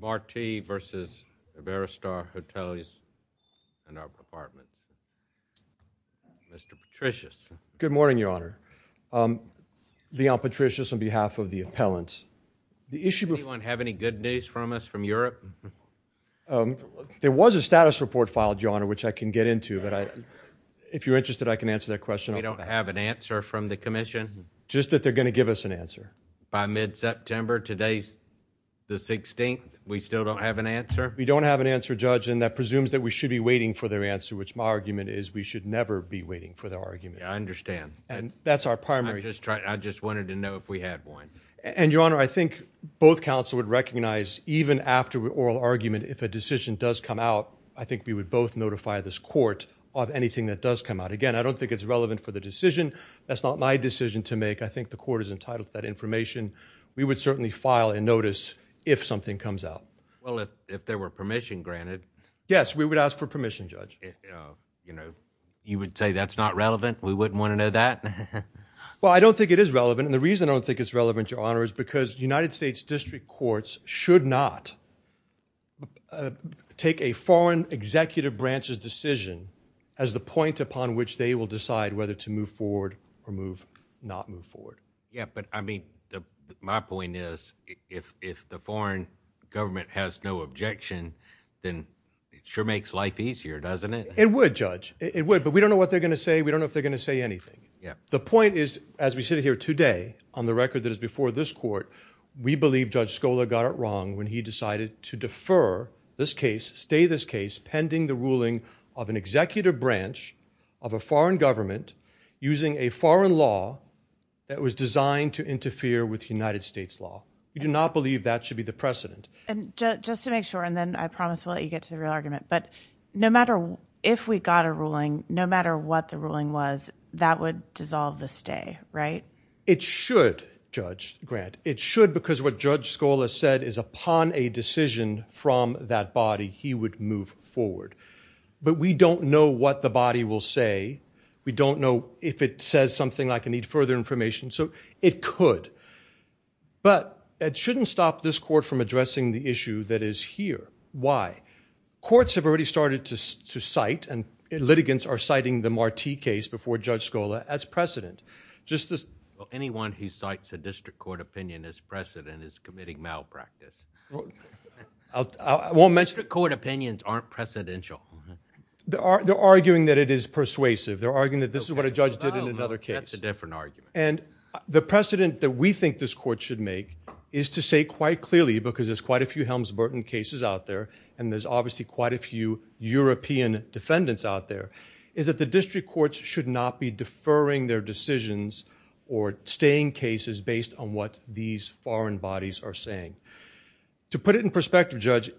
Marti v. Iberostar Hoteles Y Apartments SI in our apartments. Mr. Patricius. Good morning, Your Honor. Um, the Al Patricius on behalf of the appellant. The issue before you have any good news from us from Europe? Um, there was a status report filed, Your Honor, which I can get into. But if you're interested, I can answer that question. We don't have an answer from the commission. Just that they're gonna give us an answer by mid September. Today's the 16th. We still don't have an answer. We don't have an answer, Judge. And that presumes that we should be waiting for their answer, which my argument is we should never be waiting for the argument. I understand. And that's our primary. Just try. I just wanted to know if we had one and your honor. I think both council would recognize even after oral argument. If a decision does come out, I think we would both notify this court of anything that does come out again. I don't think it's relevant for the decision. That's not my decision to make. I think the court is entitled to that information. We would certainly file and notice if something comes out. Well, if there were permission granted, yes, we would ask for permission. Judge, you know, you would say that's not relevant. We wouldn't want to know that. Well, I don't think it is relevant. And the reason I don't think it's relevant, Your Honor, is because United States district courts should not take a foreign executive branches decision as the point upon which they will decide whether to move forward or move, not move forward. Yeah, but I mean, my point is, if the foreign government has no objection, then it sure makes life easier, doesn't it? It would judge it would, but we don't know what they're gonna say. We don't know if they're gonna say anything. The point is, as we sit here today on the record that is before this court, we believe Judge Scola got it wrong when he decided to defer this case. Stay this case pending the ruling of an executive branch of a foreign government using a foreign law that was designed to interfere with United States law. We do not believe that should be the precedent. And just to make sure, and then I promise we'll let you get to the real argument. But no matter if we got a ruling, no matter what the ruling was, that would dissolve this day, right? It should judge grant. It should, because what Judge Scola said is upon a decision from that body, he would move forward. But we don't know what the body will say. We don't know if it says something like, I need further information. So it could. But it shouldn't stop this court from addressing the issue that is here. Why? Courts have already started to cite, and litigants are citing the Marti case before Judge Scola as precedent. Just this... Well, anyone who cites a district court opinion as precedent is committing malpractice. I won't mention... District court opinions aren't precedential. They're arguing that it is persuasive. They're arguing that this is what a judge did in another case. That's a different argument. And the precedent that we think this court should make is to say quite clearly, because there's quite a few Helms-Burton cases out there, and there's obviously quite a few European defendants out there, is that the district courts should not be deferring their decisions or staying cases based on what these foreign bodies are saying. To put it in perspective, Judge,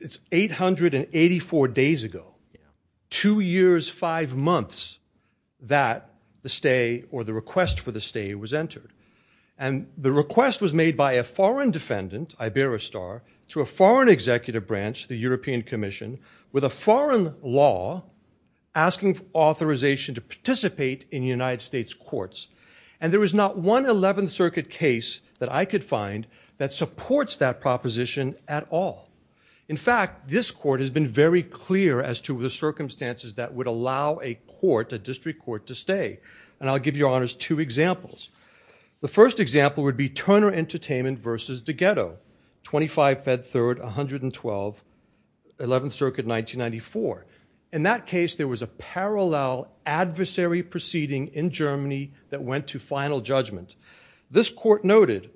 it's 884 days ago, two years, five months, that the stay or the request for the stay was entered. And the request was made by a foreign defendant, Iberistar, to a foreign executive branch, the European Commission, with a foreign law asking authorization to participate in United States courts. And there was not one 11th Circuit case that I could find that supports that proposition at all. In fact, this court has been very clear as to the circumstances that would allow a court, a district court, to stay. And I'll give your honors two examples. The first example would be Turner Entertainment versus de Ghetto, 25 Fed Third, 112, 11th Circuit, 1994. In that case, there was a parallel adversary proceeding in Germany that went to final judgment. This court noted,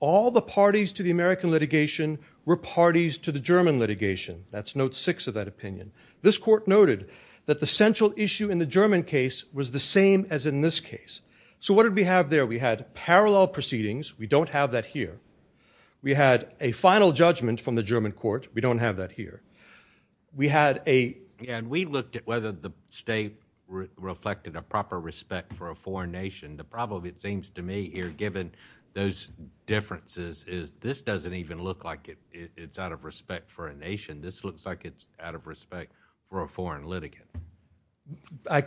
all the parties to the American litigation were parties to the German litigation. That's note six of that opinion. This court noted that the central issue in the German case was the same as in this case. So what did we have there? We had parallel proceedings. We don't have that here. We had a final judgment from the German court. We don't have that here. We had a, and we looked at whether the state reflected a proper respect for a foreign nation. The problem, it seems to me here, given those differences, is this doesn't even look like it's out of respect for a nation. This looks like it's out of respect for a foreign litigant.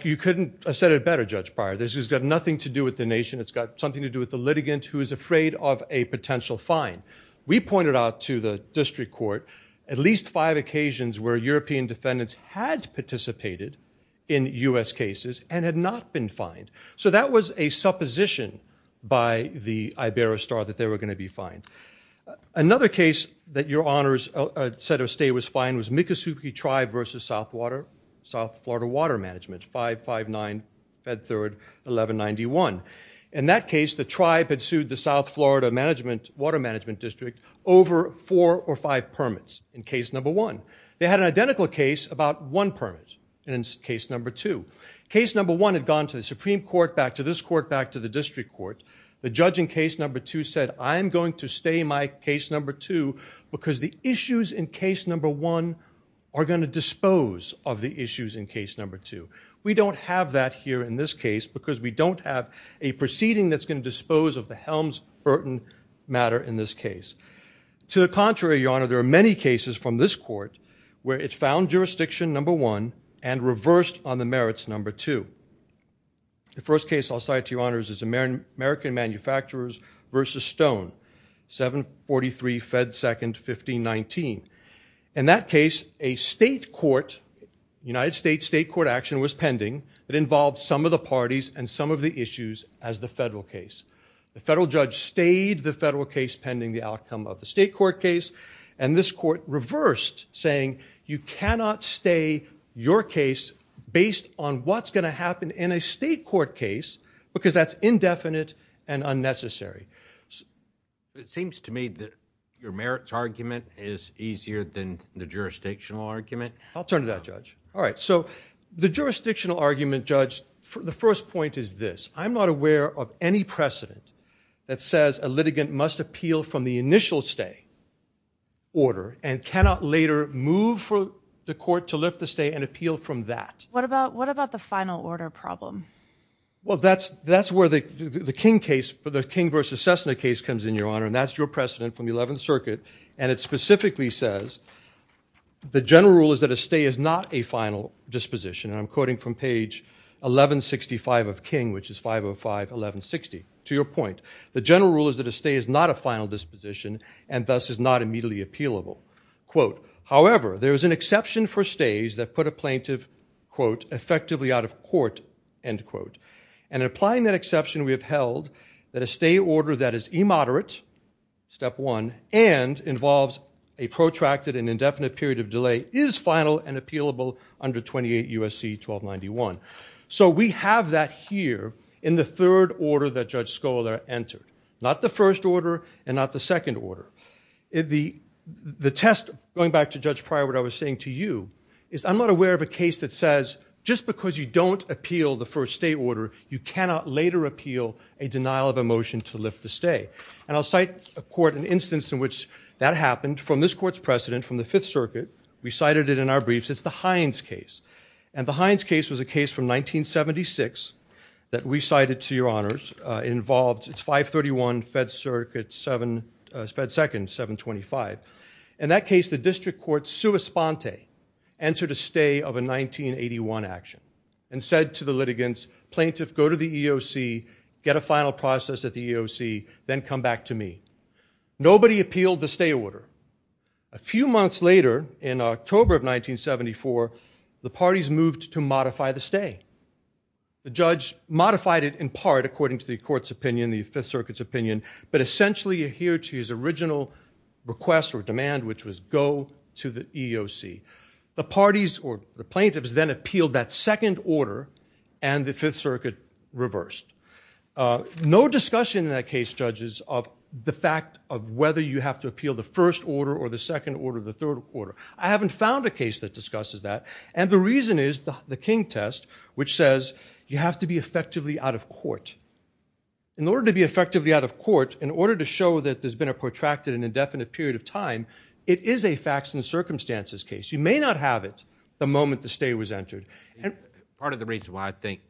You couldn't have said it better, Judge Pryor. This has got nothing to do with the nation. It's got something to do with the litigant who is afraid of a potential fine. We pointed out to the district court at least five occasions where European defendants had participated in U.S. cases and had not been fined. So that was a supposition by the Iberostar that they were going to be fined. Another case that your honors set of state was fined was Miccosukee Tribe versus South Florida Water Management, 559 Fed Third 1191. In that case, the tribe had sued the South Florida Water Management District over four or five permits in case number one. They had an identical case about one court back to this court back to the district court. The judge in case number two said, I'm going to stay in my case number two because the issues in case number one are going to dispose of the issues in case number two. We don't have that here in this case because we don't have a proceeding that's going to dispose of the Helms-Burton matter in this case. To the contrary, your honor, there are many cases from this court where it found jurisdiction number one and reversed on the merits number two. The first case I'll cite to your honors is American Manufacturers versus Stone, 743 Fed Second 1519. In that case, a state court, United States state court action was pending that involved some of the parties and some of the issues as the federal case. The federal judge stayed the federal case pending the outcome of the state court case and this court reversed saying you cannot stay your case based on what's going to happen in a state court case because that's indefinite and unnecessary. It seems to me that your merits argument is easier than the jurisdictional argument. I'll turn to that judge. The jurisdictional argument, judge, the first point is this. I'm not aware of any precedent that says a litigant must appeal from the initial stay order and cannot later move for the court to lift the stay and appeal from that. What about what about the final order problem? Well that's that's where the the King case for the King versus Cessna case comes in your honor and that's your precedent from the 11th Circuit and it specifically says the general rule is that a stay is not a final disposition. I'm quoting from page 1165 of King which is 505 1160. To your point, the general rule is that a stay is not a final disposition and thus is not immediately appealable. Quote, however there is an exception for stays that put a plaintiff quote effectively out of court end quote and applying that exception we have held that a stay order that is immoderate, step one, and involves a protracted and indefinite period of delay is final and appealable under 28 USC 1291. So we have that here in the third order that Judge Scola entered. Not the first order and not the second order. The test, going back to Judge Pryor, what I was saying to you is I'm not aware of a case that says just because you don't appeal the first stay order you cannot later appeal a denial of a motion to lift the stay and I'll cite a court an instance in which that happened from this court's precedent from the Fifth Circuit. We cited it in our briefs. It's the Hines case and the Hines case was a case from 1976 that we cited to your honors involved it's 531 Fed circuit 7 Fed second 725. In that case the district court sua sponte answered a stay of a 1981 action and said to the litigants plaintiff go to the EOC get a final process at the EOC then come back to me. Nobody appealed the stay order. A few months later in October of 1974 the parties moved to modify the stay. The judge modified it in part according to the court's opinion the Fifth Circuit's opinion but essentially adhered to his original request or demand which was go to the EOC. The parties or the plaintiffs then appealed that second order and the Fifth Circuit reversed. No discussion in that case judges of the fact of whether you have to appeal the first order or the second order the third quarter. I haven't found a case that discusses that and the reason is the the King test which says you have to be effectively out of court. In order to be effectively out of court in order to show that there's been a protracted and indefinite period of time it is a facts and circumstances case. You may not have it the moment the stay was entered. Part of the reason why I think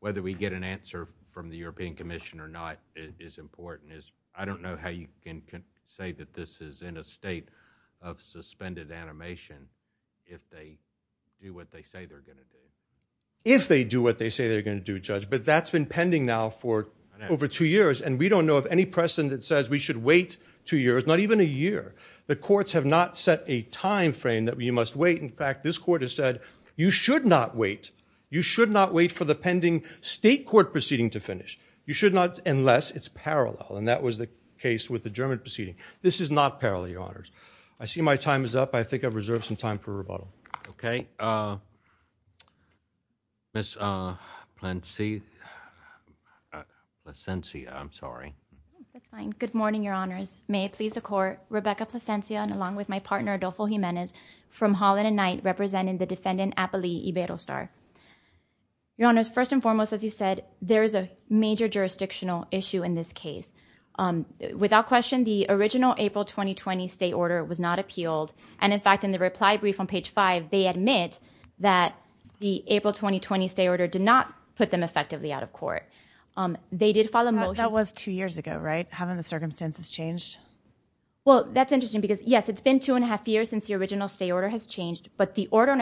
whether we get an answer from the European Commission or not is important is I don't know how you can say that this is in a state of suspended animation if they do what they say they're going to do. If they do what they say they're going to do judge but that's been pending now for over two years and we don't know of any precedent that says we should wait two years not even a year. The courts have not set a time frame that we must wait. In fact this court has said you should not wait. You should not wait for the pending state court proceeding to finish. You should not unless it's parallel and that was the case with the German proceeding. This is not parallel your honors. I see my time is up. I think I've reserved some time for rebuttal. Okay Miss Placencia. I'm sorry. Good morning your honors. May it please the court. Rebecca Placencia and along with my partner Adolfo Jimenez from Holland and you said there's a major jurisdictional issue in this case. Without question the original April 2020 state order was not appealed and in fact in the reply brief on page 5 they admit that the April 2020 state order did not put them effectively out of court. They did follow motion. That was two years ago right? Haven't the circumstances changed? Well that's interesting because yes it's been two and a half years since the original state order has changed but the order and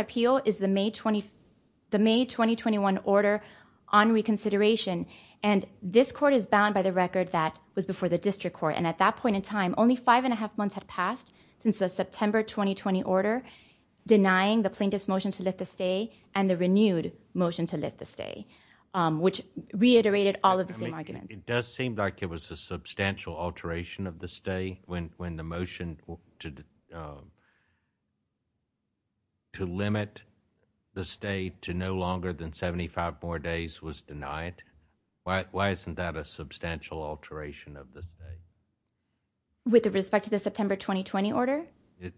on reconsideration and this court is bound by the record that was before the district court and at that point in time only 5.5 months had passed since the September 2020 order denying the plaintiff's motion to lift the stay and the renewed motion to lift the stay um which reiterated all of the same arguments. It does seem like it was a substantial alteration of the stay when when the motion to uh to limit the state to no longer than 75 more days was denied. Why isn't that a substantial alteration of the state? With the respect to the September 2020 order?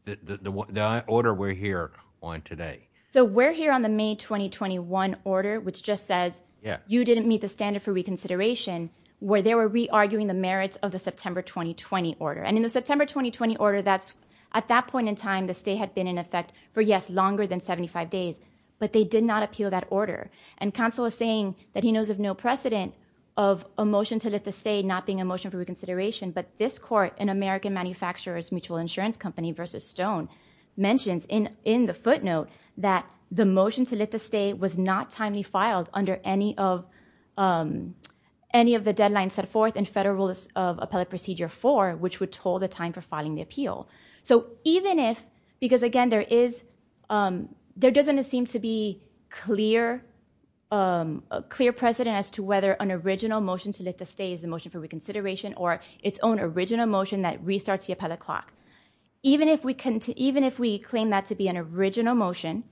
The order we're here on today. So we're here on the May 2021 order which just says yeah you didn't meet the standard for reconsideration where they were re-arguing the merits of the September 2020 order and in the September 2020 order that's at that point in time the state had been in effect for yes longer than 75 days but they did not appeal that order and counsel is saying that he knows of no precedent of a motion to let the state not being a motion for reconsideration but this court in american manufacturers mutual insurance company versus stone mentions in in the footnote that the motion to let the state was not timely filed under any of um any of the deadlines set therefore which would toll the time for filing the appeal so even if because again there is there doesn't seem to be clear a clear precedent as to whether an original motion to let the state is the motion for reconsideration or its own original motion that restarts the appellate clock even if we can even if we claim that to be an original motion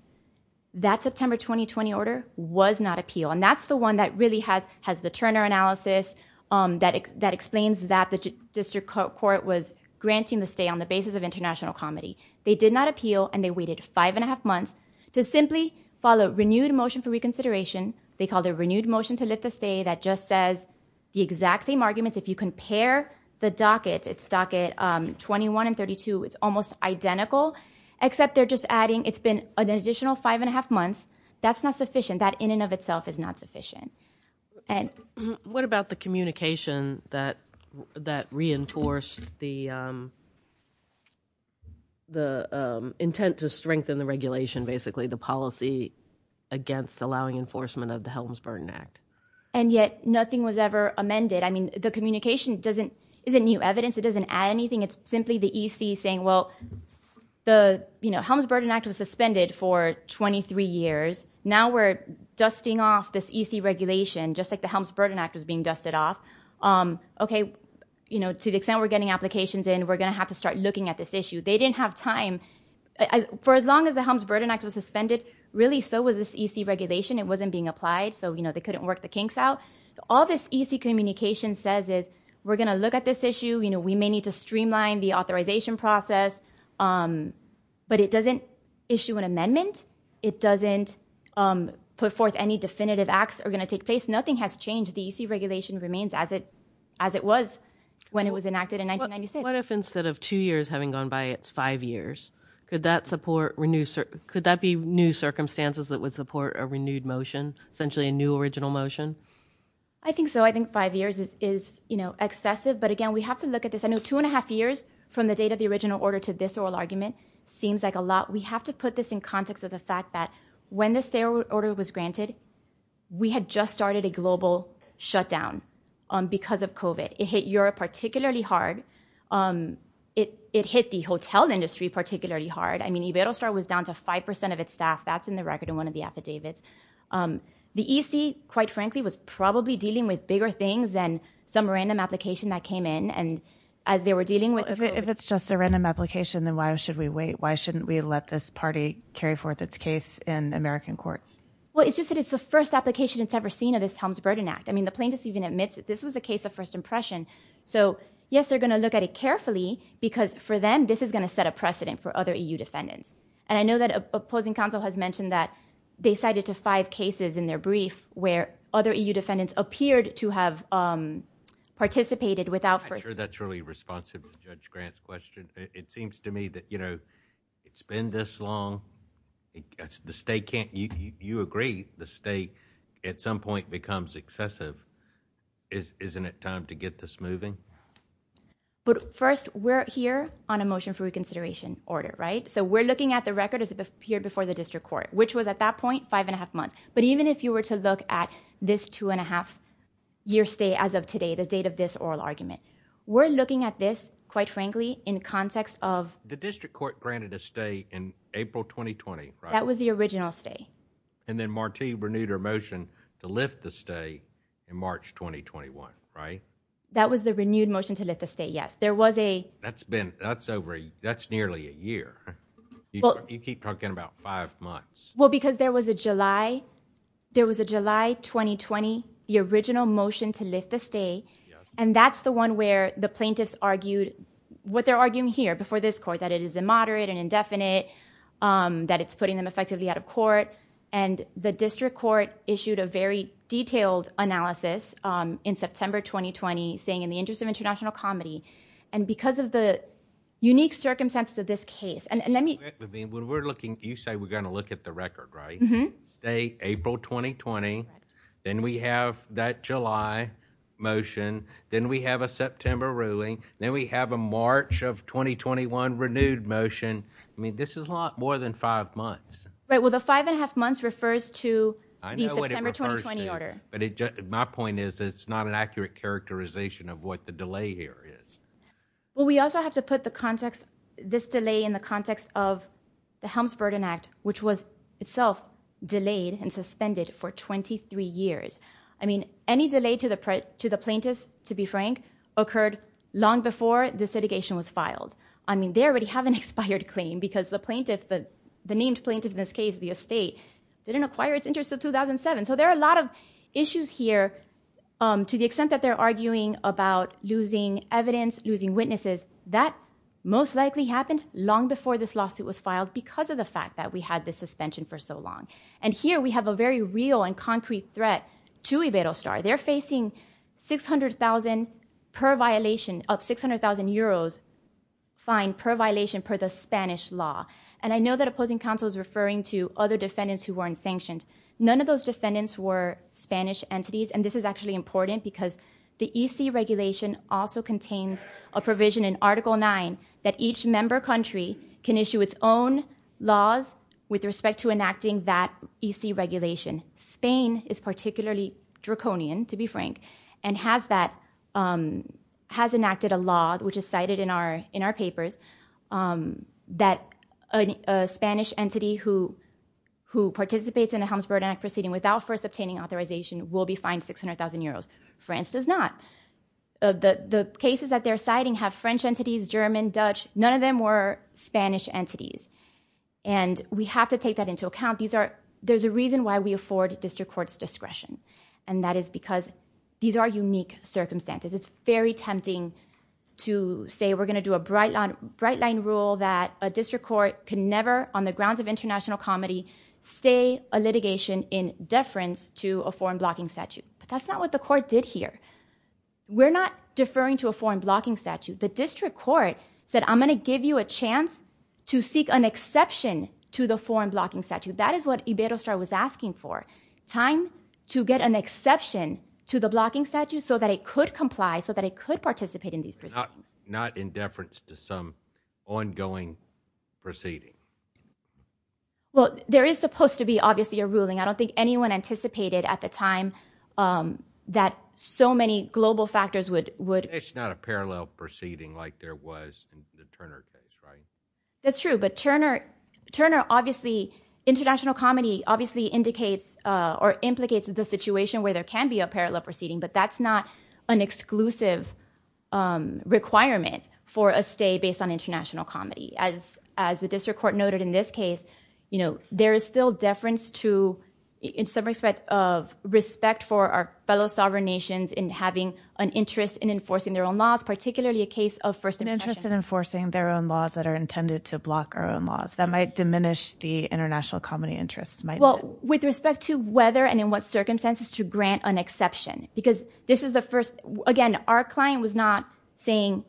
that September 2020 order was not appeal and that's the one that really has has the Turner analysis that explains that the district court was granting the stay on the basis of international comedy they did not appeal and they waited five and a half months to simply follow renewed motion for reconsideration they called a renewed motion to lift the stay that just says the exact same arguments if you compare the docket it's docket 21 and 32 it's almost identical except they're just adding it's been an additional five and a half months that's not sufficient that in and of itself is not sufficient and what about the communication that that reinforced the the intent to strengthen the regulation basically the policy against allowing enforcement of the Helms Burden Act and yet nothing was ever amended I mean the communication doesn't isn't new evidence it doesn't add anything it's simply the EC saying well the you know Helms Burden Act was 23 years now we're dusting off this EC regulation just like the Helms Burden Act was being dusted off okay you know to the extent we're getting applications and we're gonna have to start looking at this issue they didn't have time for as long as the Helms Burden Act was suspended really so was this EC regulation it wasn't being applied so you know they couldn't work the kinks out all this EC communication says is we're gonna look at this issue you know we may need to streamline the authorization process but it doesn't issue an amendment it doesn't put forth any definitive acts are going to take place nothing has changed the EC regulation remains as it as it was when it was enacted in 1996. What if instead of two years having gone by it's five years could that support renew sir could that be new circumstances that would support a renewed motion essentially a new original motion? I think so I think five years is you know excessive but again we have to look at this I know two and a half years from the date of the original order to this oral argument seems like a lot we have to put this in context of the fact that when the stay order was granted we had just started a global shutdown because of COVID it hit Europe particularly hard it it hit the hotel industry particularly hard I mean Iberostar was down to 5% of its staff that's in the record in one of the affidavits the EC quite frankly was probably dealing with bigger things than some random application that came in and as they were dealing with if it's just a wait why shouldn't we let this party carry forth its case in American courts? Well it's just that it's the first application it's ever seen of this Helms Burden Act I mean the plaintiffs even admits that this was the case of first impression so yes they're gonna look at it carefully because for them this is gonna set a precedent for other EU defendants and I know that opposing counsel has mentioned that they cited to five cases in their brief where other EU defendants appeared to have participated without first. I'm sure that's really responsible Judge Grant's question it seems to me that you know it's been this long it's the state can't you agree the state at some point becomes excessive isn't it time to get this moving? But first we're here on a motion for reconsideration order right so we're looking at the record as it appeared before the district court which was at that point five and a half months but even if you were to look at this two and a half year stay as of today the date of this oral argument we're looking at this quite frankly in context of the district court granted a stay in April 2020 that was the original stay and then Marti renewed her motion to lift the stay in March 2021 right that was the renewed motion to let the state yes there was a that's been that's over that's nearly a year well you keep talking about five months well because there was a July there was a July 2020 the original motion to lift the stay and that's the one where the plaintiffs argued what they're arguing here before this court that it is a moderate and indefinite that it's putting them effectively out of court and the district court issued a very detailed analysis in September 2020 saying in the interest of international comedy and because of the unique circumstances of this case and let me we're looking you April 2020 then we have that July motion then we have a September ruling then we have a March of 2021 renewed motion I mean this is a lot more than five months right well the five and a half months refers to order but it just my point is it's not an accurate characterization of what the delay here is well we also have to put the context this delay in the context of the Helms delayed and suspended for 23 years I mean any delay to the print to the plaintiffs to be frank occurred long before this litigation was filed I mean they already have an expired claim because the plaintiff but the named plaintiff in this case the estate didn't acquire its interest of 2007 so there are a lot of issues here to the extent that they're arguing about losing evidence losing witnesses that most likely happened long before this lawsuit was and here we have a very real and concrete threat to a Beto star they're facing 600,000 per violation of 600,000 euros fine per violation per the Spanish law and I know that opposing counsel is referring to other defendants who were in sanctions none of those defendants were Spanish entities and this is actually important because the EC regulation also contains a provision in article 9 that each member country can issue its own laws with respect to that EC regulation Spain is particularly draconian to be frank and has that has enacted a law which is cited in our in our papers that a Spanish entity who who participates in the Helms Bird Act proceeding without first obtaining authorization will be fined six hundred thousand euros France does not the the cases that they're citing have French entities German Dutch none of them were Spanish entities and we have to take that into account these are there's a reason why we afford district courts discretion and that is because these are unique circumstances it's very tempting to say we're gonna do a bright line bright line rule that a district court could never on the grounds of international comedy stay a litigation in deference to a foreign blocking statute but that's not what the court did here we're not deferring to a foreign blocking statute the district court said I'm gonna give you a chance to seek an exception to the foreign blocking statute that is what Iberostar was asking for time to get an exception to the blocking statute so that it could comply so that it could participate in these prisons not in deference to some ongoing proceeding well there is supposed to be obviously a ruling I don't think anyone anticipated at the time that so many global factors would it's not a parallel proceeding like there was that's true but Turner Turner obviously international comedy obviously indicates or implicates the situation where there can be a parallel proceeding but that's not an exclusive requirement for a stay based on international comedy as as the district court noted in this case you know there is still deference to in some respect of respect for our enforcing their own laws particularly a case of first interest in enforcing their own laws that are intended to block our own laws that might diminish the international comedy interests might well with respect to whether and in what circumstances to grant an exception because this is the first again our client was not saying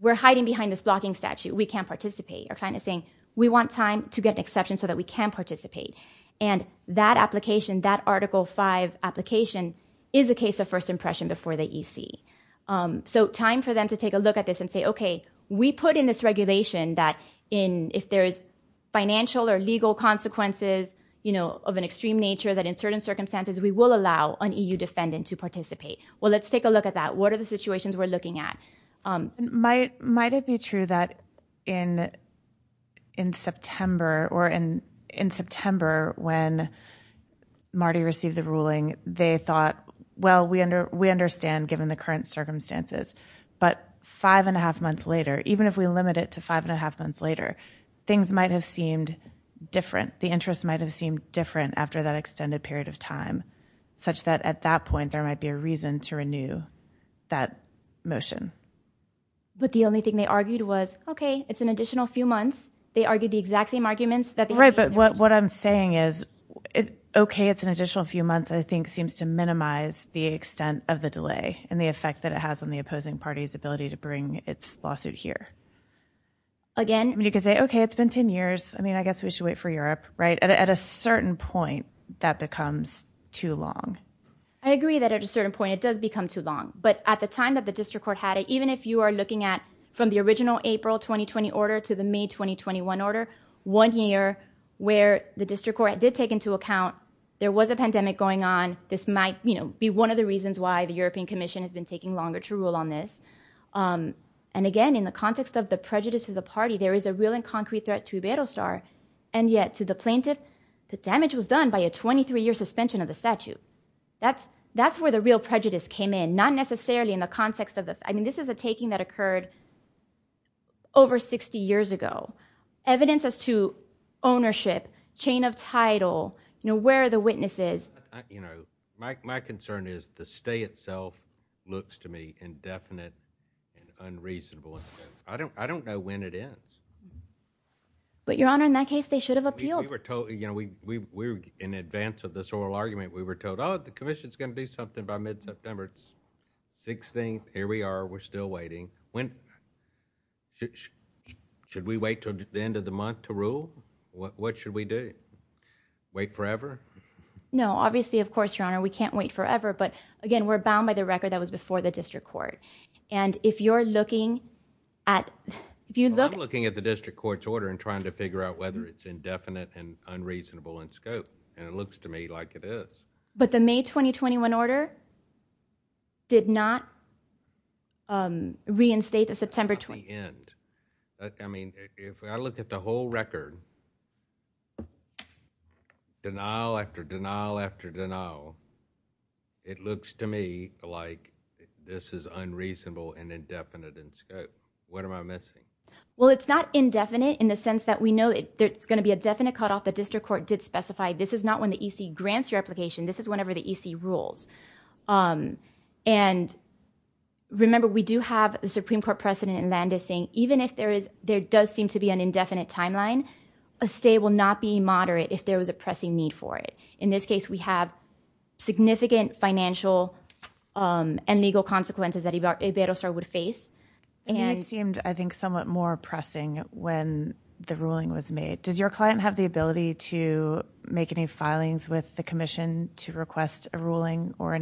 we're hiding behind this blocking statute we can't participate our client is saying we want time to get an exception so that we can participate and that application that article 5 application is a case of first before the EC so time for them to take a look at this and say okay we put in this regulation that in if there is financial or legal consequences you know of an extreme nature that in certain circumstances we will allow an EU defendant to participate well let's take a look at that what are the situations we're looking at might might it be true that in in September or in in September when Marty received the ruling they thought well we under we understand given the current circumstances but five-and-a-half months later even if we limit it to five-and-a-half months later things might have seemed different the interest might have seemed different after that extended period of time such that at that point there might be a reason to renew that motion but the only thing they argued was okay it's an additional few months they argued the is okay it's an additional few months I think seems to minimize the extent of the delay and the effect that it has on the opposing parties ability to bring its lawsuit here again you can say okay it's been ten years I mean I guess we should wait for Europe right at a certain point that becomes too long I agree that at a certain point it does become too long but at the time that the district court had it even if you are looking at from the original April 2020 one order one year where the district court did take into account there was a pandemic going on this might you know be one of the reasons why the European Commission has been taking longer to rule on this and again in the context of the prejudice of the party there is a real and concrete threat to Beto Starr and yet to the plaintiff the damage was done by a 23-year suspension of the statute that's that's where the real prejudice came in not necessarily in the evidence as to ownership chain of title you know where the witnesses you know my concern is the stay itself looks to me indefinite and unreasonable I don't I don't know when it is but your honor in that case they should have appealed we were told you know we were in advance of this oral argument we were told oh the Commission's gonna do something by mid-september it's 16th here we are we're still waiting when should we wait till the end of the month to rule what what should we do wait forever no obviously of course your honor we can't wait forever but again we're bound by the record that was before the district court and if you're looking at if you look looking at the district court's order and trying to figure out whether it's indefinite and unreasonable in reinstate the September 20th I mean if I look at the whole record denial after denial after denial it looks to me like this is unreasonable and indefinite in scope what am I missing well it's not indefinite in the sense that we know that there's gonna be a definite cut off the district court did specify this is not when the EC grants your application this is whenever the EC rules and remember we do have the Supreme Court precedent in Landis saying even if there is there does seem to be an indefinite timeline a stay will not be moderate if there was a pressing need for it in this case we have significant financial and legal consequences that he got a better start would face and it seemed I think somewhat more pressing when the ruling was made does your client have the ability to make any filings with the Commission to request a ruling or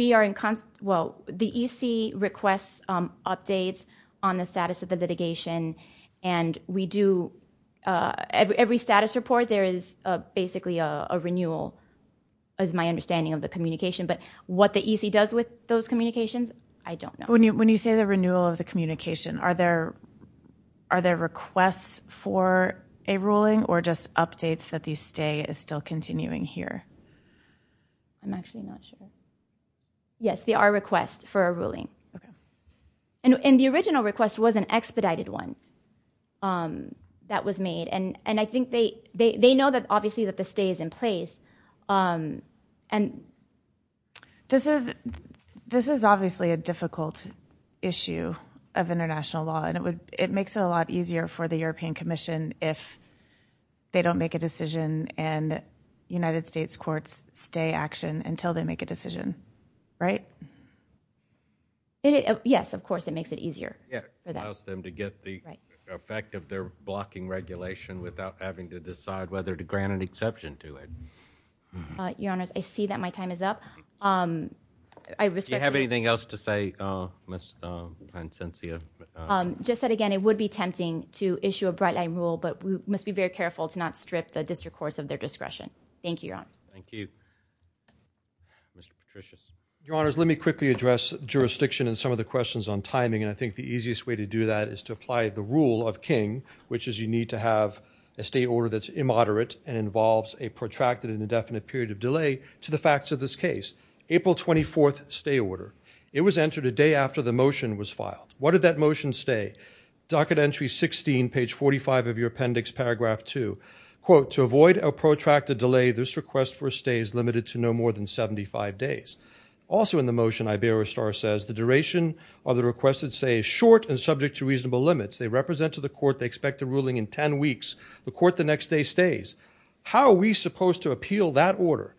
we are in constant well the EC requests updates on the status of the litigation and we do every status report there is basically a renewal as my understanding of the communication but what the EC does with those communications I don't know when you when you say the renewal of the communication are there are there requests for a ruling or just updates that these stay is still continuing here I'm actually not sure yes they are requests for a ruling and in the original request was an expedited one that was made and and I think they they know that obviously that the stays in place and this is this is obviously a difficult issue of international law and it would it makes it a lot easier for the European Commission if they don't make a decision and United States courts stay action until they make a decision right yes of course it makes it easier yeah allows them to get the effect of their blocking regulation without having to decide whether to grant an exception to it your honors I see that my time is up I have anything else to say just said again it would be tempting to issue a bright line rule but we must be very careful to not strip the your honors let me quickly address jurisdiction and some of the questions on timing and I think the easiest way to do that is to apply the rule of King which is you need to have a state order that's immoderate and involves a protracted and indefinite period of delay to the facts of this case April 24th stay order it was entered a day after the motion was filed what did that motion stay docket entry 16 page 45 of your appendix paragraph 2 quote to avoid protracted delay this request for stays limited to no more than 75 days also in the motion I bear a star says the duration of the requested say short and subject to reasonable limits they represent to the court they expect a ruling in 10 weeks the court the next day stays how are we supposed to appeal that order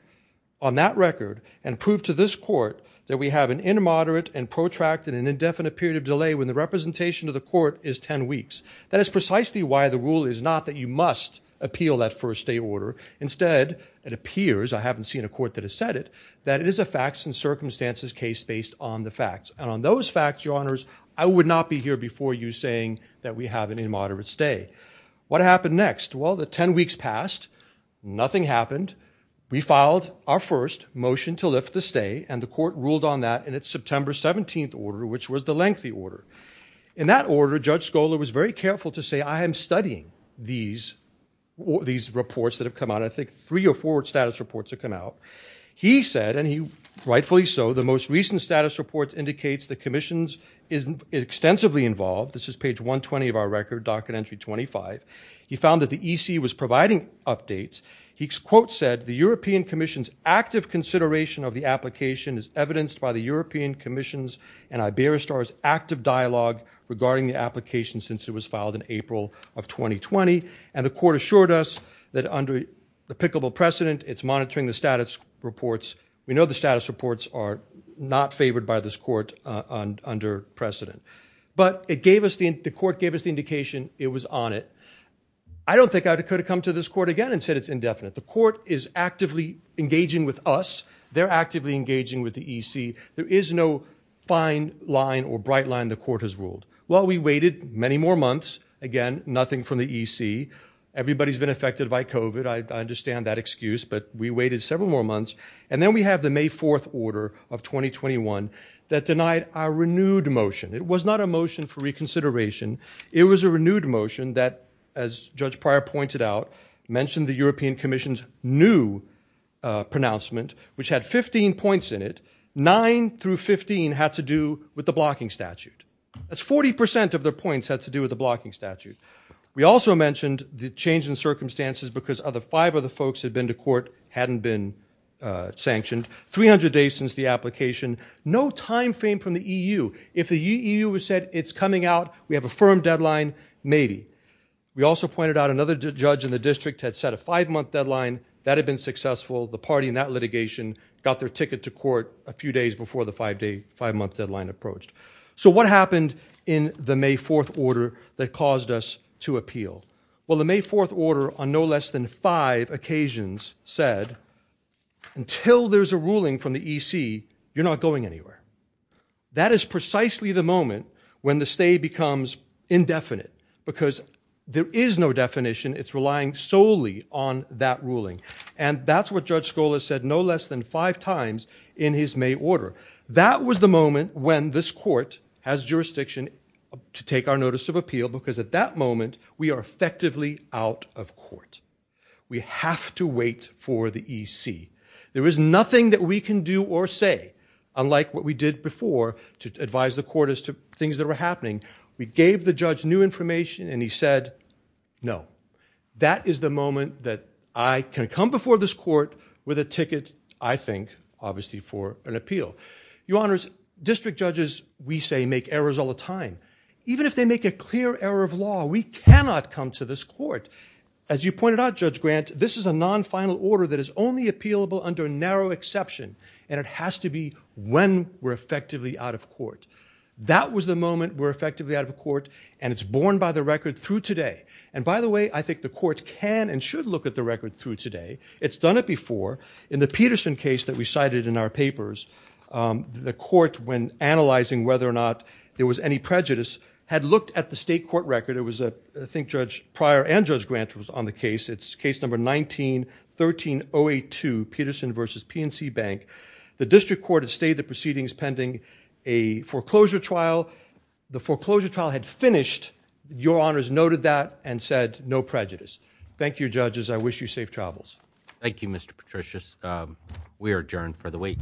on that record and prove to this court that we have an inmoderate and protracted an indefinite period of delay when the representation of the court is 10 weeks that is precisely why the rule is not that you must appeal that first day order instead it appears I haven't seen a court that has said it that it is a facts and circumstances case based on the facts and on those facts your honors I would not be here before you saying that we have an immoderate stay what happened next well the 10 weeks passed nothing happened we filed our first motion to lift the stay and the court ruled on that and it's September 17th order which was the lengthy order in that order judge was very careful to say I am studying these these reports that have come on I think three or four status reports have come out he said and he rightfully so the most recent status report indicates the Commission's isn't extensively involved this is page 120 of our record docket entry 25 he found that the EC was providing updates he quote said the European Commission's active consideration of the application is evidenced by the European Commission's active dialogue regarding the application since it was filed in April of 2020 and the court assured us that under the pickable precedent it's monitoring the status reports we know the status reports are not favored by this court under precedent but it gave us the court gave us the indication it was on it I don't think I could have come to this court again and said it's indefinite the court is actively engaging with us they're actively engaging with the EC there is no fine line or bright line the court has ruled well we waited many more months again nothing from the EC everybody's been affected by Cove it I understand that excuse but we waited several more months and then we have the May 4th order of 2021 that denied our renewed motion it was not a motion for reconsideration it was a renewed motion that as judge prior pointed out mentioned the European Commission's new pronouncement which had 15 points in it 9 through 15 had to do with the blocking statute that's 40% of their points had to do with the blocking statute we also mentioned the change in circumstances because other five of the folks had been to court hadn't been sanctioned 300 days since the application no time frame from the EU if the EU was said it's coming out we have a firm deadline maybe we also pointed out another judge in the district had set a five-month deadline that had been successful the party in that litigation got their ticket to court a few days before the five-day five-month deadline approached so what happened in the May 4th order that caused us to appeal well the May 4th order on no less than five occasions said until there's a ruling from the EC you're not going anywhere that is precisely the moment when the state becomes indefinite because there is no definition it's relying solely on that ruling and that's what judge Scholar said no less than five times in his May order that was the moment when this court has jurisdiction to take our notice of appeal because at that moment we are effectively out of court we have to wait for the EC there is nothing that we can do or say unlike what we did before to advise the court as to things that were happening we gave the judge new information and he said no that is the moment that I can come before this court with a ticket I think obviously for an appeal your honors district judges we say make errors all the time even if they make a clear error of law we cannot come to this court as you pointed out judge grant this is a non final order that is only appealable under a narrow exception and it has to be when we're effectively out of court that was the moment we're effectively out of court and it's borne by the record through today and by the way I think the court can and should look at the record through today it's done it before in the Peterson case that we cited in our papers the court when analyzing whether or not there was any prejudice had looked at the state court record it was a think judge prior and judge grant was on the case it's case number 19 1308 to Peterson versus PNC Bank the district court has stayed the proceedings pending a foreclosure trial the foreclosure trial had finished your honors noted that and said no prejudice thank you judges I wish you safe travels Thank You mr. Patricius we are adjourned for the week